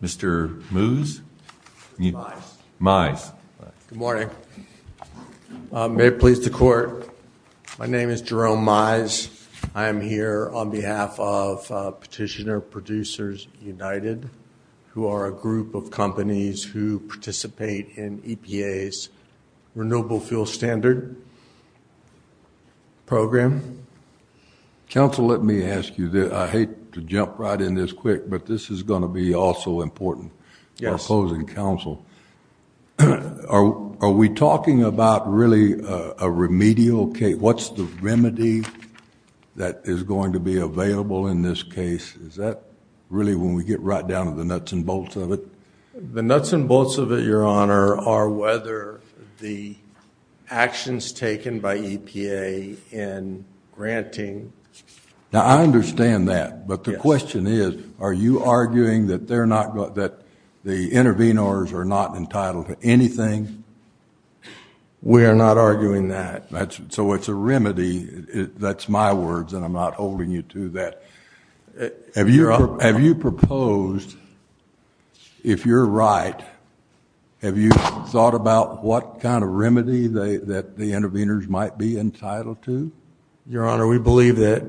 Mr. Mize. Good morning. May it please the court, my name is Jerome Mize. I am here on behalf of Petitioner Producers United, who are a group of companies who participate in EPA's Renewable Fuel Standard Program. Council, let me ask you that I hate to jump right in this quick, but this is going to be also important. Yes. Closing counsel, are we talking about really a remedial case? What's the remedy that is going to be available in this case? Is that really when we get right down to the nuts and bolts of it? The nuts and bolts of it, your honor, are whether the actions taken by EPA in granting... Now I understand that, but the question is, are you arguing that they're not, that the intervenors are not entitled to anything? We are not arguing that. That's, so it's a remedy, that's my words and I'm not holding you to that. Have you, have you proposed, if you're right, have you thought about what kind of remedy they, that the intervenors might be entitled to? Your honor, we believe that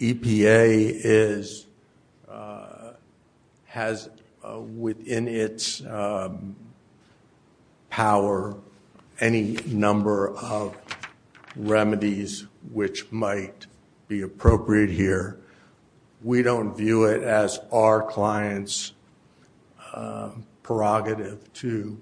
EPA is, has within its power any number of remedies which might be appropriate here. We don't view it as our client's prerogative to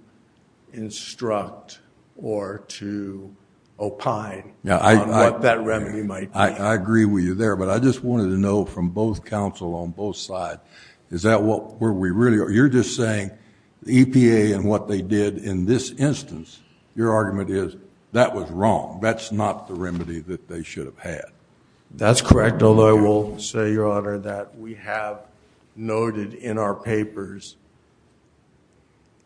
instruct or to opine on what that remedy might be. I agree with you there, but I just wanted to know from both counsel on both sides, is that what, where we really are? You're just saying the EPA and what they did in this instance, your argument is that was wrong. That's not the remedy that they should have had. That's correct, although I will say, your honor, that we have noted in our papers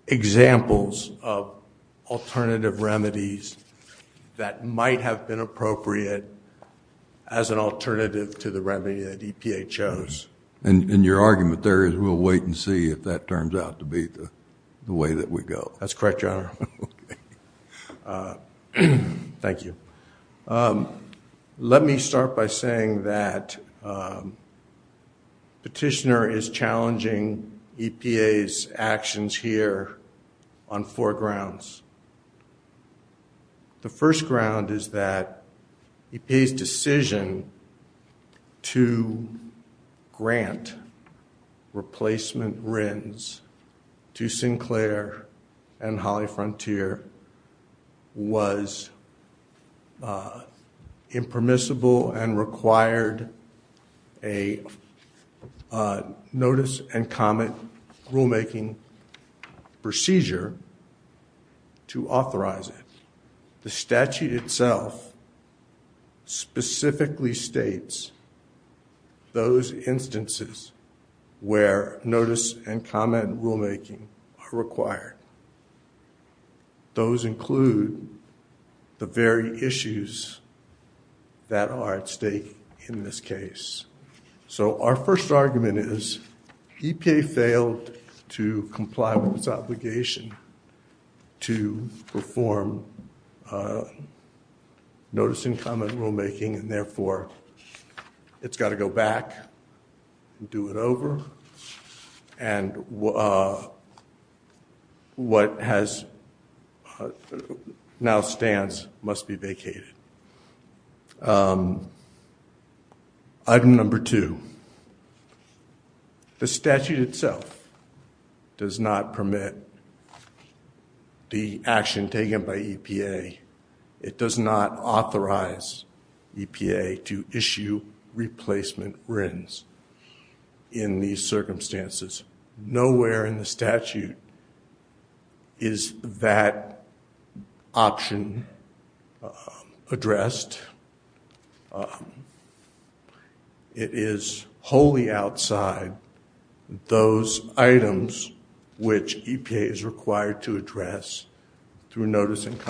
examples of alternative remedies that might have been appropriate as an alternative to the remedy that EPA chose. And your argument there is we'll wait and see if that turns out to be the way that we go. That's correct, your honor. Thank you. Let me start by saying that petitioner is challenging EPA's actions here on four grounds. The first ground is that EPA's decision to grant replacement RINs to people and required a notice and comment rulemaking procedure to authorize it. The statute itself specifically states those instances where notice and comment rulemaking are required. Those include the very issues that are at stake in this case. So our first argument is EPA failed to comply with its obligation to perform notice and comment rulemaking and therefore it's got to go back and do it over and what has now stands must be vacated. Item number two, the statute itself does not permit the action taken by EPA. It does not authorize EPA to in these circumstances. Nowhere in the statute is that option addressed. It is wholly outside those items which EPA is required to address through notice and the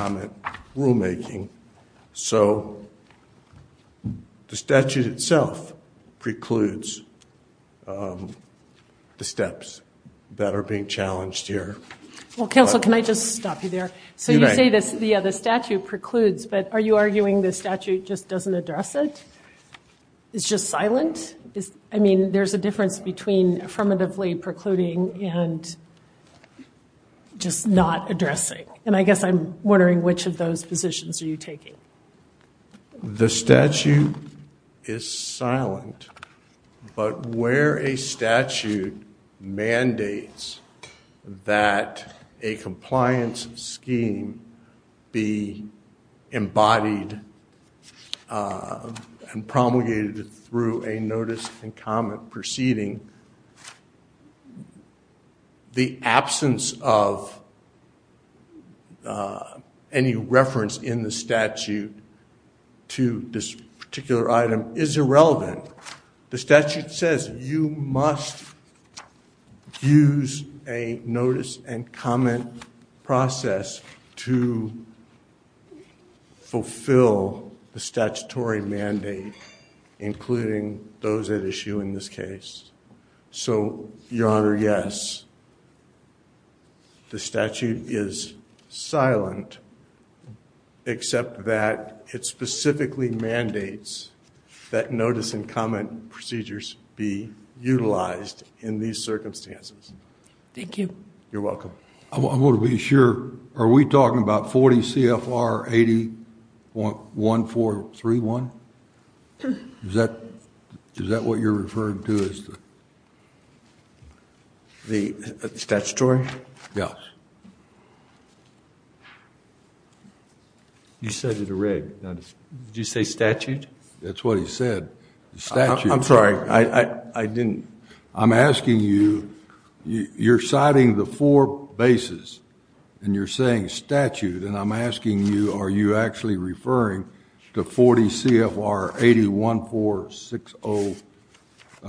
steps that are being challenged here. Well counsel can I just stop you there? So you say this the other statute precludes but are you arguing this statute just doesn't address it? It's just silent? I mean there's a difference between affirmatively precluding and just not addressing and I guess I'm wondering which of those positions are you taking? The statute is silent but where a statute mandates that a compliance scheme be embodied and promulgated through a notice and comment proceeding, the absence of any reference in the statute to this particular item is irrelevant. The statute says you must use a notice and comment process to fulfill the statutory mandate including those at issue in this case. So your honor yes the statute is silent except that it specifically mandates that notice and comment procedures be utilized in these circumstances. Thank you. You're welcome. I want to be sure are we talking about 40 CFR 80.1431? Is that is that what you're referring to as the the statutory? Yes. You said it already. Did you say statute? That's what he said. I'm sorry I didn't. I'm asking you you're citing the four bases and you're saying statute and I'm asking you are you actually referring to 40 CFR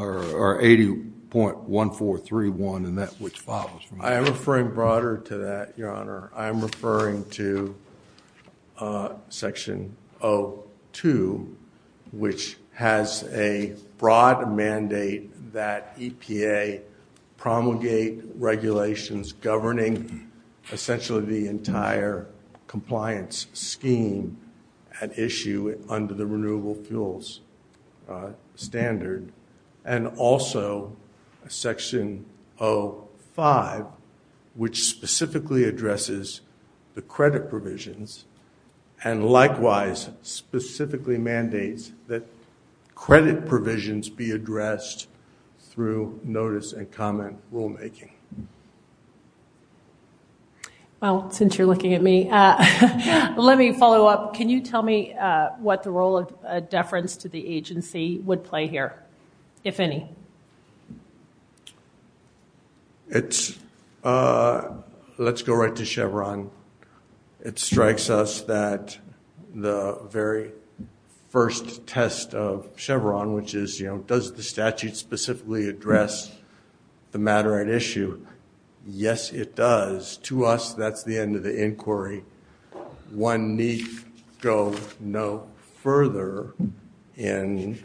80.1431 and that which follows? I am referring broader to that your honor. I am referring to section 0-2 which has a broad mandate that EPA promulgate regulations governing essentially the entire compliance scheme at issue under the renewable fuels standard and also section 0-5 which specifically addresses the credit provisions and likewise specifically mandates that credit provisions be addressed through notice and comment rulemaking. Well since you're looking at me let me follow up. Can you tell me what the role of deference to the agency would play here if any? It's let's go right to Chevron. It strikes us that the very first test of Chevron which is you know does the statute specifically address the matter at issue? Yes it does. To us that's the end of the inquiry. One need go no further in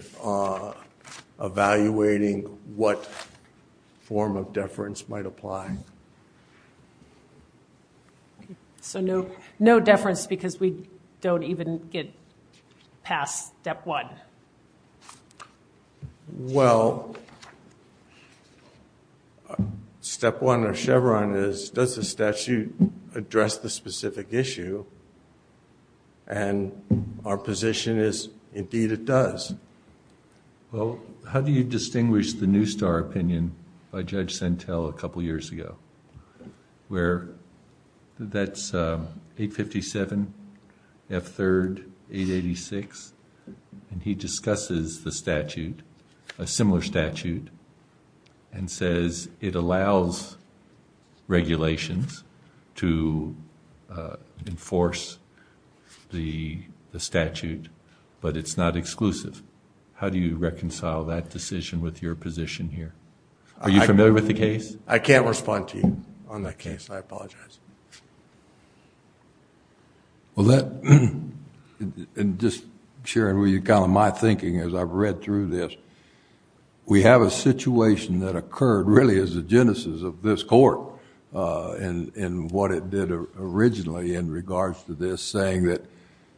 evaluating what form of deference might apply. So no no deference because we don't even get past step one? Well step one of Chevron is does the statute address the specific issue and our position is indeed it does. Well how do you distinguish the new star opinion by years ago where that's 857 F third 886 and he discusses the statute a similar statute and says it allows regulations to enforce the statute but it's not exclusive. How do you reconcile that decision with your position here? Are you going to respond to you on that case? I apologize. Well that and just sharing with you kind of my thinking as I've read through this we have a situation that occurred really as the genesis of this court and in what it did originally in regards to this saying that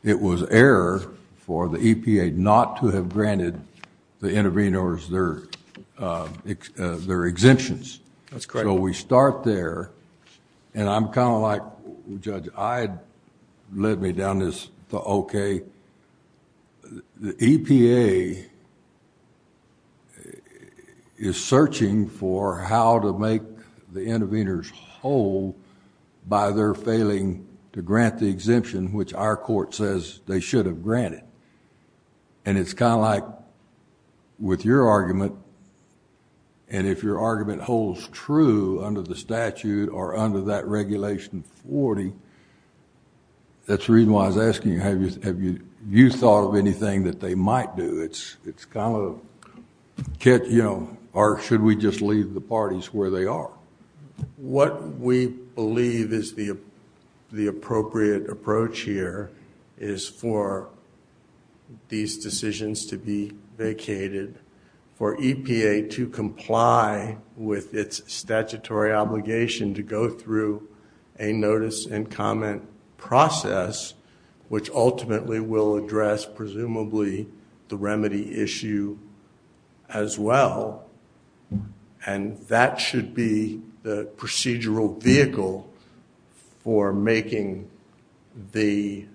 it was error for the EPA not to have granted the intervenors their exemptions. That's correct. So we start there and I'm kind of like Judge I had led me down this okay the EPA is searching for how to make the intervenors whole by their failing to grant the exemption which our like with your argument and if your argument holds true under the statute or under that regulation 40 that's the reason why I was asking have you thought of anything that they might do it's it's kind of catch you know or should we just leave the parties where they are? What we believe is the the appropriate approach here is for these decisions to be vacated for EPA to comply with its statutory obligation to go through a notice and comment process which ultimately will address presumably the remedy issue as well and that should be the procedural vehicle for making the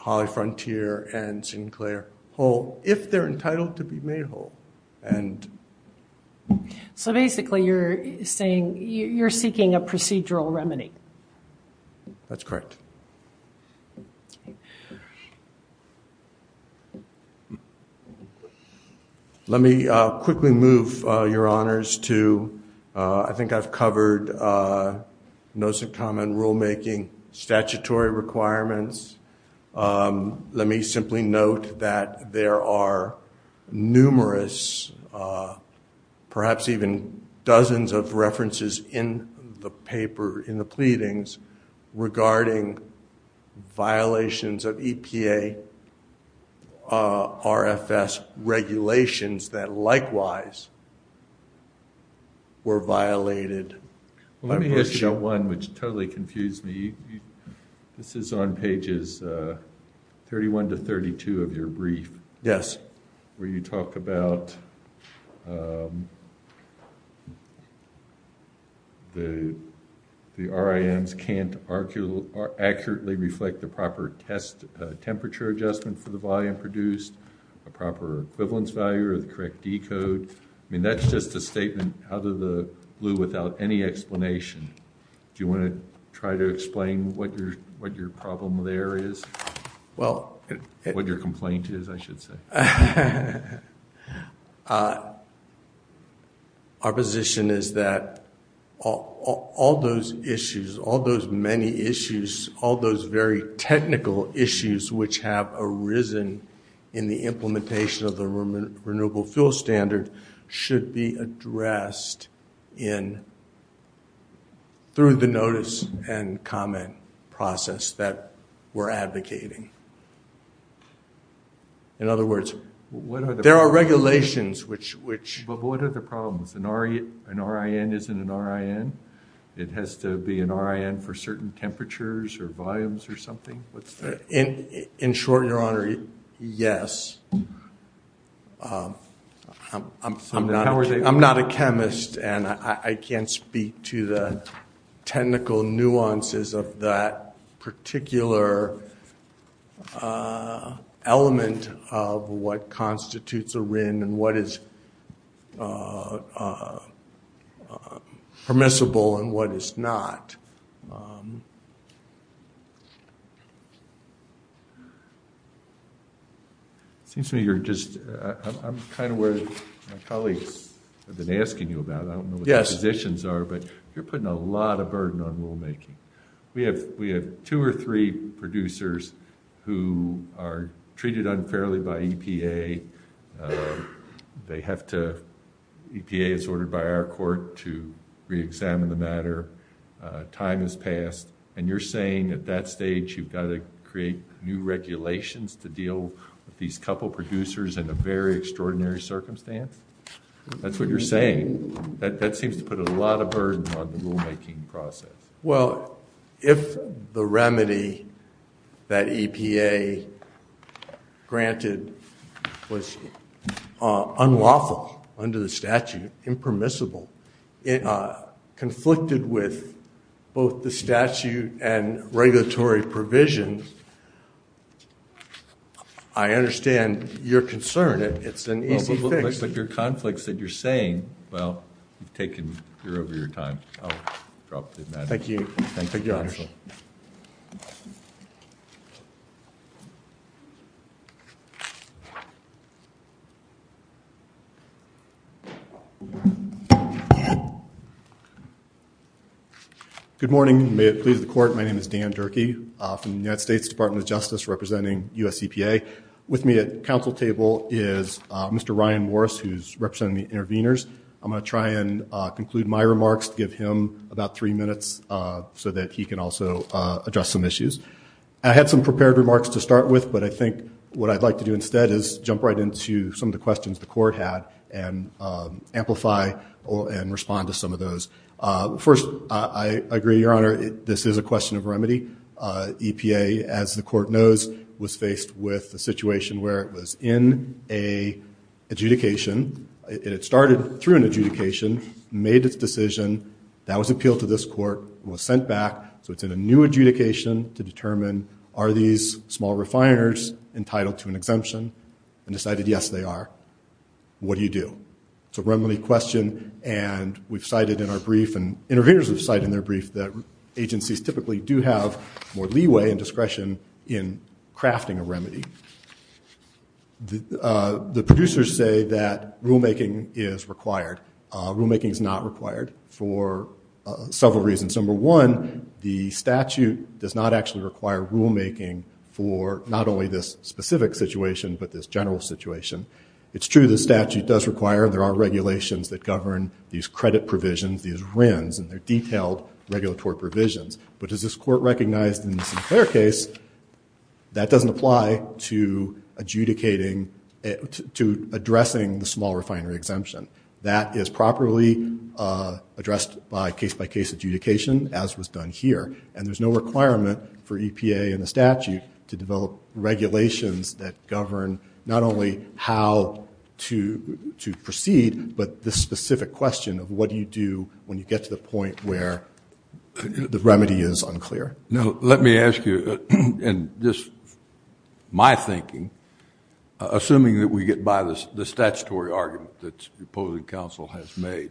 Holly Frontier and Sinclair whole if they're entitled to be made whole and so basically you're saying you're seeking a procedural remedy. That's correct. Let me quickly move your honors to I think I've covered notice and comment rulemaking statutory requirements let me simply note that there are numerous perhaps even dozens of references in the paper in the pleadings regarding violations of EPA RFS regulations that likewise were violated. Let me ask you about one which totally confused me this is on pages 31 to 32 of your brief. Yes. Where you talk about the the RIMs can't accurately reflect the proper test temperature adjustment for the volume produced a proper equivalence value or the correct decode I mean that's just a statement out of the blue without any explanation. Do you want to try to explain what your what your problem there is well what your complaint is I should say. Our position is that all those issues all those many issues all those very technical issues which have arisen in the implementation of the renewable fuel standard should be we're advocating. In other words there are regulations which which. But what are the problems an RIN isn't an RIN? It has to be an RIN for certain temperatures or volumes or something? In short your honor yes. I'm not a chemist and I can't speak to the technical nuances of that particular element of what constitutes a RIN and what is permissible and what is not. It seems to me you're just I'm kind of worried my colleagues have been asking you about I don't know what the positions are but you're putting a lot of burden on rulemaking. We have we have two or three producers who are treated unfairly by EPA. They have to EPA is ordered by our court to re-examine the and you're saying at that stage you've got to create new regulations to deal with these couple producers in a very extraordinary circumstance? That's what you're saying. That seems to put a lot of burden on the rulemaking process. Well if the remedy that EPA granted was unlawful under the statute impermissible conflicted with both the statute and regulatory provisions I understand your concern it's an easy fix. But your conflicts that you're saying well you've taken you're over your time. Thank you. Good morning may it please the court my name is Dan Durkee from the United States Department of Justice representing US EPA. With me at council table is Mr. Ryan Morris who's representing the interveners. I'm going to try and conclude my remarks to give him about three minutes so that he can also address some issues. I had some prepared remarks to start with but I think what I'd like to do instead is jump right into some of the questions the court had and amplify and respond to some of those. First I agree your honor this is a question of remedy. EPA as the court knows was faced with the situation where it was in a adjudication it started through an adjudication made its decision that was appealed to this court was sent back so it's in a new adjudication to determine are these small refiners entitled to an exemption and decided yes they are. What do you do? It's a remedy question and we've cited in our brief and interveners have cited in their brief that agencies typically do have more leeway and discretion in crafting a remedy. The producers say that rulemaking is required. Rulemaking is not required for several reasons. Number one the statute does not actually require rulemaking for not only this specific situation but this general situation. It's true the statute does require there are regulations that govern these credit provisions these RINs and they're detailed regulatory provisions but as this court recognized in this fair case that doesn't apply to adjudicating to addressing the small refinery exemption. That is properly addressed by case-by-case adjudication as was done here and there's no requirement for EPA and the statute to develop regulations that govern not only how to to proceed but the specific question of what do you do when you get to the point where the remedy is unclear. Now let me ask you and just my thinking assuming that we get by this the statutory argument that opposing counsel has made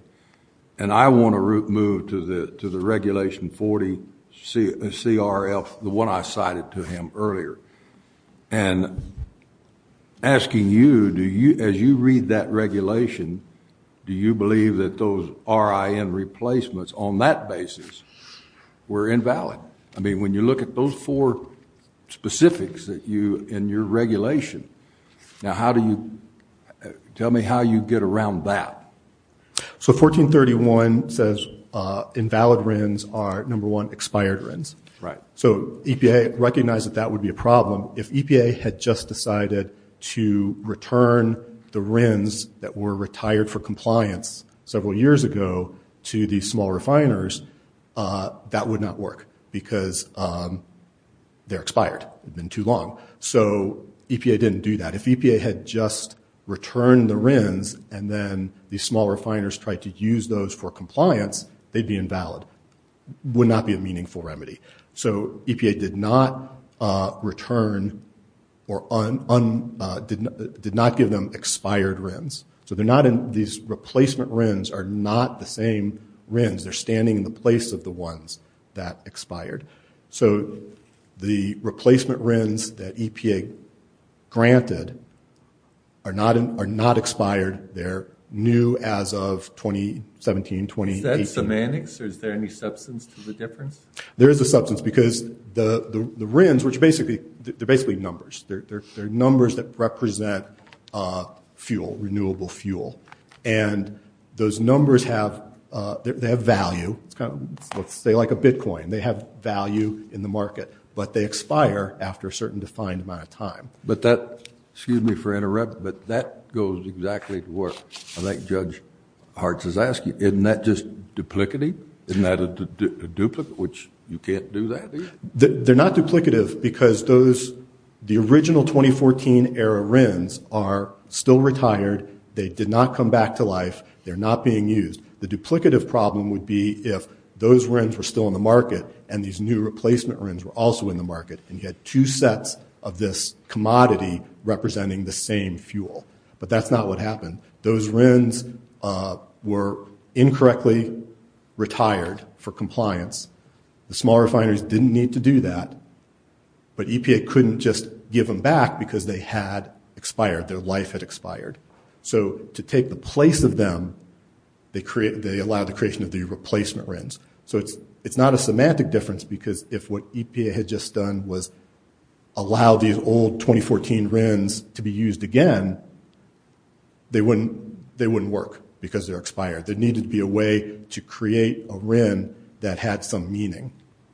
and I want to move to the to the regulation 40 CRF the one I cited to him earlier and asking you do you as you read that regulation do you believe that those RIN replacements on that basis were invalid? I mean when you look at those four specifics that you in your regulation now how do you tell me how you get around that? So 1431 says invalid RINs are number one expired RINs right so EPA recognized that that would be a problem if EPA had just decided to return the RINs that were retired for compliance several years ago to these small refiners that would not work because they're expired it's been too long so EPA didn't do that if EPA had just returned the RINs and then these small refiners tried to use those for compliance they'd be invalid would not be a meaningful remedy so EPA did not return or did not give them expired RINs so they're not in these replacement RINs are not the same RINs they're standing in the place of the ones that expired so the replacement RINs that EPA granted are not expired they're new as of 2017 2018. Is that semantics or is there any substance to the difference? There is a substance because the the RINs which basically they're basically numbers they're numbers that represent fuel renewable fuel and those numbers have they have value it's kind of let's say like a Bitcoin they have value in the market but they expire after a certain defined amount of time but that excuse me for interrupt but that goes exactly to work I think Judge Hartz is asking isn't that just duplicity isn't that a duplicate which you can't do that they're not duplicative because those the original 2014 era RINs are still retired they did not come back to life they're not being used the duplicative problem would be if those RINs were still in the market and these new replacement RINs were also in the market and you had two sets of this commodity representing the same fuel but that's not what happened those RINs were incorrectly retired for compliance the small refineries didn't need to do that but EPA couldn't just give them back because they had expired their life had expired so to take the place of them they create they allow the creation of the replacement RINs so it's it's not a semantic difference because if what EPA had just done was allow these old 2014 RINs to be used again they wouldn't they wouldn't work because they're expired there needed to be a way to create a RIN that had some meaning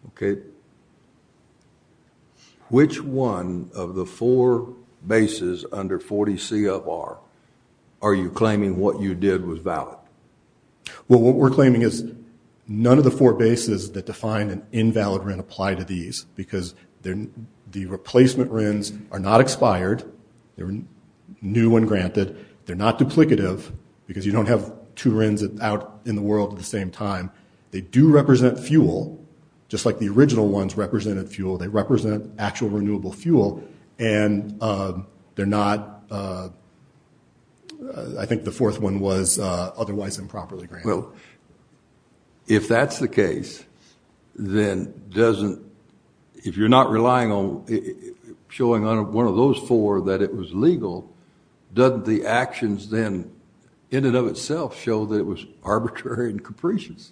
okay which one of the four bases under 40 C of R are you claiming what you did was valid well what we're claiming is none of the four and apply to these because then the replacement RINs are not expired they were new and granted they're not duplicative because you don't have two RINs out in the world at the same time they do represent fuel just like the original ones represented fuel they represent actual renewable fuel and they're not I think the fourth one was otherwise improperly well if that's the then doesn't if you're not relying on showing on one of those four that it was legal doesn't the actions then in and of itself show that it was arbitrary and capricious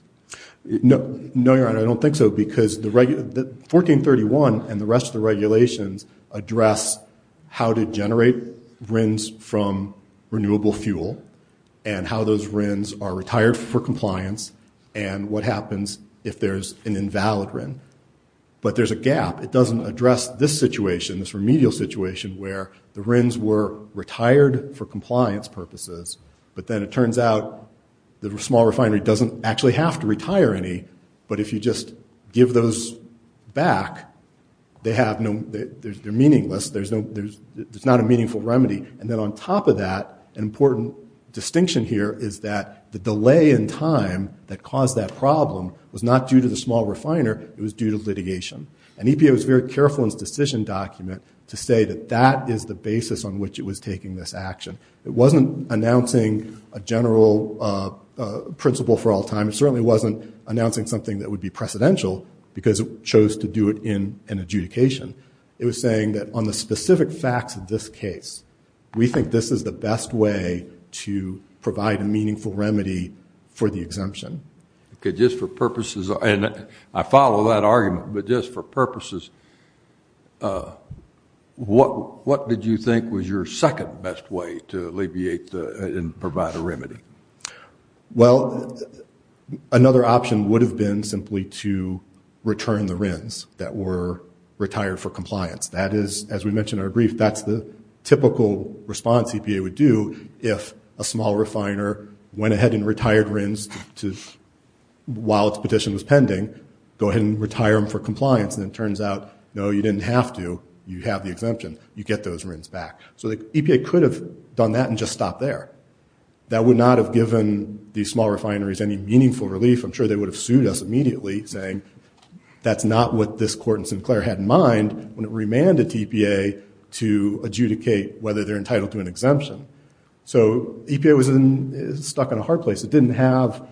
no no you're right I don't think so because the regular 1431 and the rest of the regulations address how to generate RINs from renewable fuel and how those RINs are retired for compliance and what happens if there's an invalid RIN but there's a gap it doesn't address this situation this remedial situation where the RINs were retired for compliance purposes but then it turns out the small refinery doesn't actually have to retire any but if you just give those back they have no they're meaningless there's no there's there's not a meaningful remedy and then on top of that an important distinction here is that the delay in time that caused that problem was not due to the small refiner it was due to litigation and EPA was very careful in its decision document to say that that is the basis on which it was taking this action it wasn't announcing a general principle for all time it certainly wasn't announcing something that would be precedential because it chose to do it in an adjudication it was saying that on the specific facts of this case we think this is the best way to provide a meaningful remedy for the exemption okay just for purposes and I follow that argument but just for purposes what what did you think was your second best way to alleviate and provide a remedy well another option would have been simply to return the RINs that were retired for TPA would do if a small refiner went ahead and retired RINs to while its petition was pending go ahead and retire them for compliance and it turns out no you didn't have to you have the exemption you get those RINs back so the EPA could have done that and just stop there that would not have given these small refineries any meaningful relief I'm sure they would have sued us immediately saying that's not what this court in Sinclair had in mind when it adjudicate whether they're entitled to an exemption so EPA was in stuck in a hard place it didn't have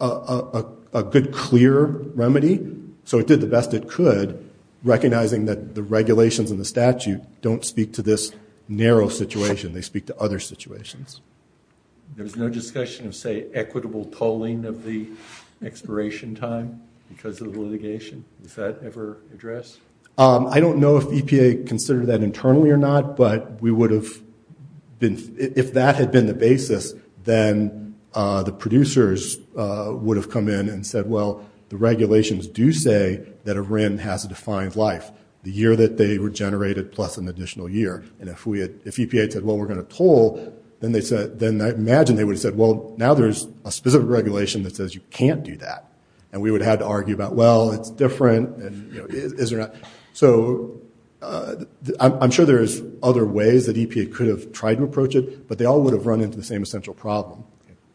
a good clear remedy so it did the best it could recognizing that the regulations in the statute don't speak to this narrow situation they speak to other situations there's no discussion of say equitable tolling of the expiration time because of the litigation is that ever address I don't know if EPA considered that internally or not but we would have been if that had been the basis then the producers would have come in and said well the regulations do say that a RIN has a defined life the year that they were generated plus an additional year and if we had if EPA said well we're going to toll then they said then I imagine they would have said well now there's a specific regulation that says you can't do that and we would have to so I'm sure there's other ways that EPA could have tried to approach it but they all would have run into the same essential problem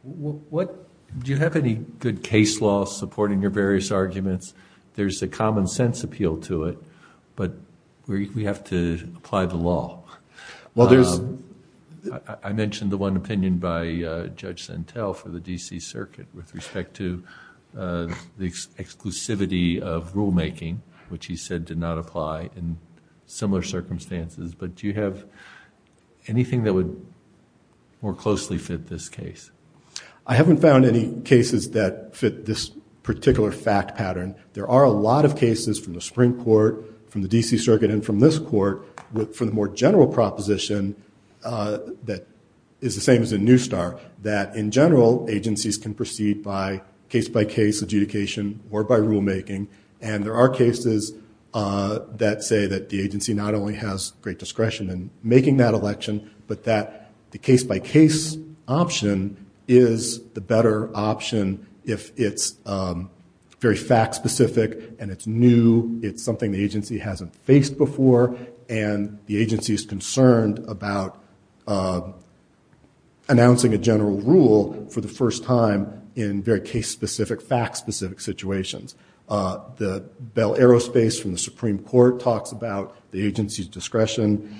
what do you have any good case law supporting your various arguments there's a common-sense appeal to it but we have to apply the law well there's I mentioned the one opinion by judge Santel for the DC Circuit with respect to the exclusivity of rule making which he said did not apply in similar circumstances but you have anything that would more closely fit this case I haven't found any cases that fit this particular fact pattern there are a lot of cases from the Supreme Court from the DC Circuit and from this court with for the more general proposition that is the same as a new star that in general agencies can by case-by-case adjudication or by rulemaking and there are cases that say that the agency not only has great discretion and making that election but that the case-by-case option is the better option if it's very fact specific and it's new it's something the agency hasn't faced before and the very case-specific fact-specific situations the Bell Aerospace from the Supreme Court talks about the agency's discretion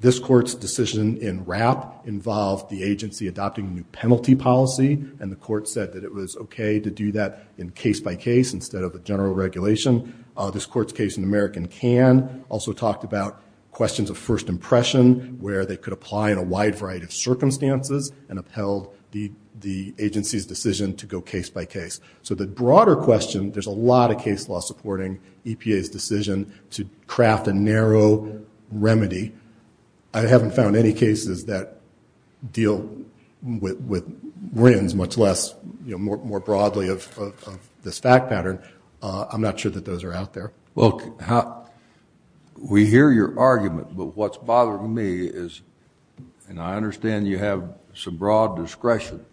this court's decision in wrap involved the agency adopting new penalty policy and the court said that it was okay to do that in case-by-case instead of a general regulation this court's case in American can also talked about questions of first impression where they could apply in a wide variety of circumstances and upheld the agency's decision to go case-by-case so the broader question there's a lot of case law supporting EPA's decision to craft a narrow remedy I haven't found any cases that deal with wins much less you know more broadly of this fact pattern I'm not sure that those are out there look how we hear your argument but what's and I understand you have some broad discretion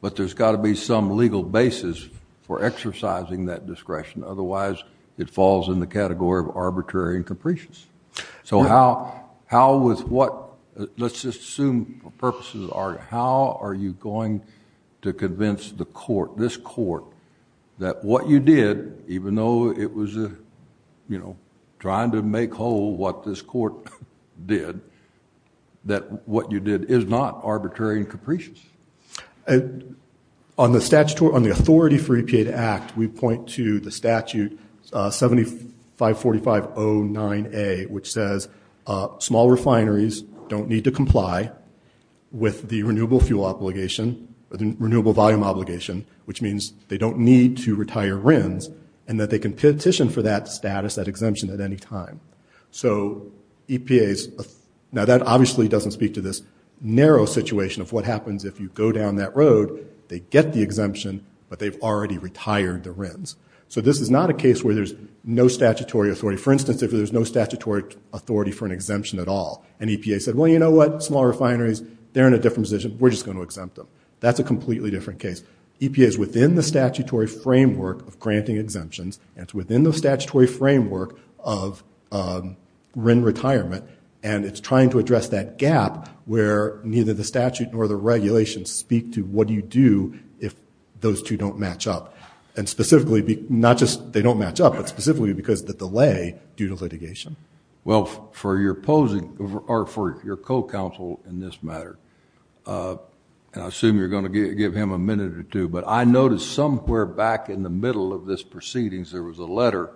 but there's got to be some legal basis for exercising that discretion otherwise it falls in the category of arbitrary and capricious so how how was what let's just assume purposes are how are you going to convince the court this court that what you did even though it was a you know trying to make whole what this court did that what you did is not arbitrary and capricious and on the statutory on the authority for EPA to act we point to the statute 75 45 0 9 a which says small refineries don't need to comply with the renewable fuel obligation or the renewable volume obligation which means they don't need to retire RINs and that they can petition for that status that exemption at any time so EPA's now that obviously doesn't speak to this narrow situation of what happens if you go down that road they get the exemption but they've already retired the RINs so this is not a case where there's no statutory authority for instance if there's no statutory authority for an exemption at all and EPA said well you know what small refineries they're in a different position we're just going to exempt them that's a completely different case EPA is within the statutory framework of it's within the statutory framework of RIN retirement and it's trying to address that gap where neither the statute nor the regulations speak to what do you do if those two don't match up and specifically be not just they don't match up but specifically because the delay due to litigation well for your opposing or for your co-counsel in this matter and I assume you're going to give him a minute or two but I noticed somewhere back in the middle of this proceedings there was a letter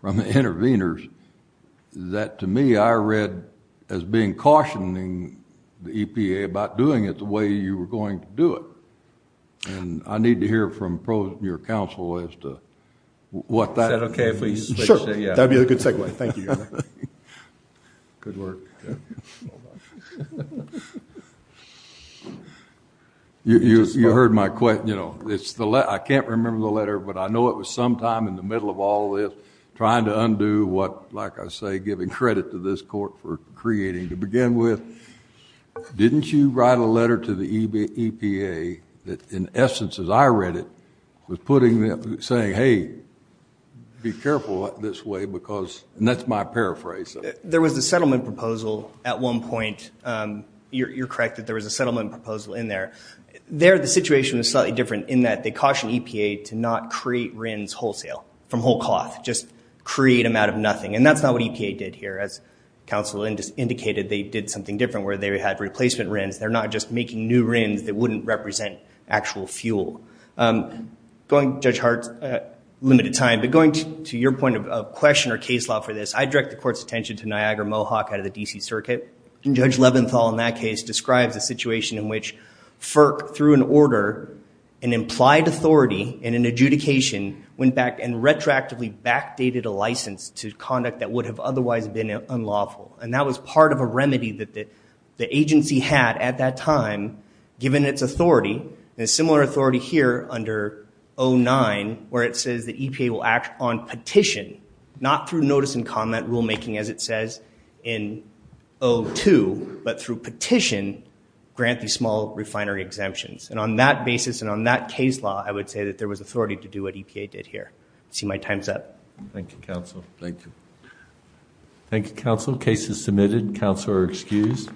from the interveners that to me I read as being cautioning the EPA about doing it the way you were going to do it and I need to hear from pros your counsel as to what that okay please yeah that'd be a good segue thank you you heard my question you know it's the let I can't trying to undo what like I say giving credit to this court for creating to begin with didn't you write a letter to the EPA that in essence as I read it was putting them saying hey be careful this way because and that's my paraphrase there was a settlement proposal at one point you're correct that there was a settlement proposal in there there the situation was slightly different in that they caution EPA to not create RINs wholesale from whole cloth just create them out of nothing and that's not what EPA did here as counsel and just indicated they did something different where they had replacement RINs they're not just making new RINs that wouldn't represent actual fuel going judge Hart limited time but going to your point of question or case law for this I direct the court's attention to Niagara Mohawk out of the DC Circuit and judge Leventhal in that case describes a situation in which FERC through an order an implied authority in an adjudication went back and retroactively backdated a license to conduct that would have otherwise been unlawful and that was part of a remedy that the agency had at that time given its authority a similar authority here under o9 where it says the EPA will act on petition not through notice and comment rulemaking as it says in o2 but through petition grant these small refinery exemptions and on that basis and on that case law I would say that there was authority to do what EPA did here see my times up Thank You counsel thank you Thank You counsel cases submitted counselor excused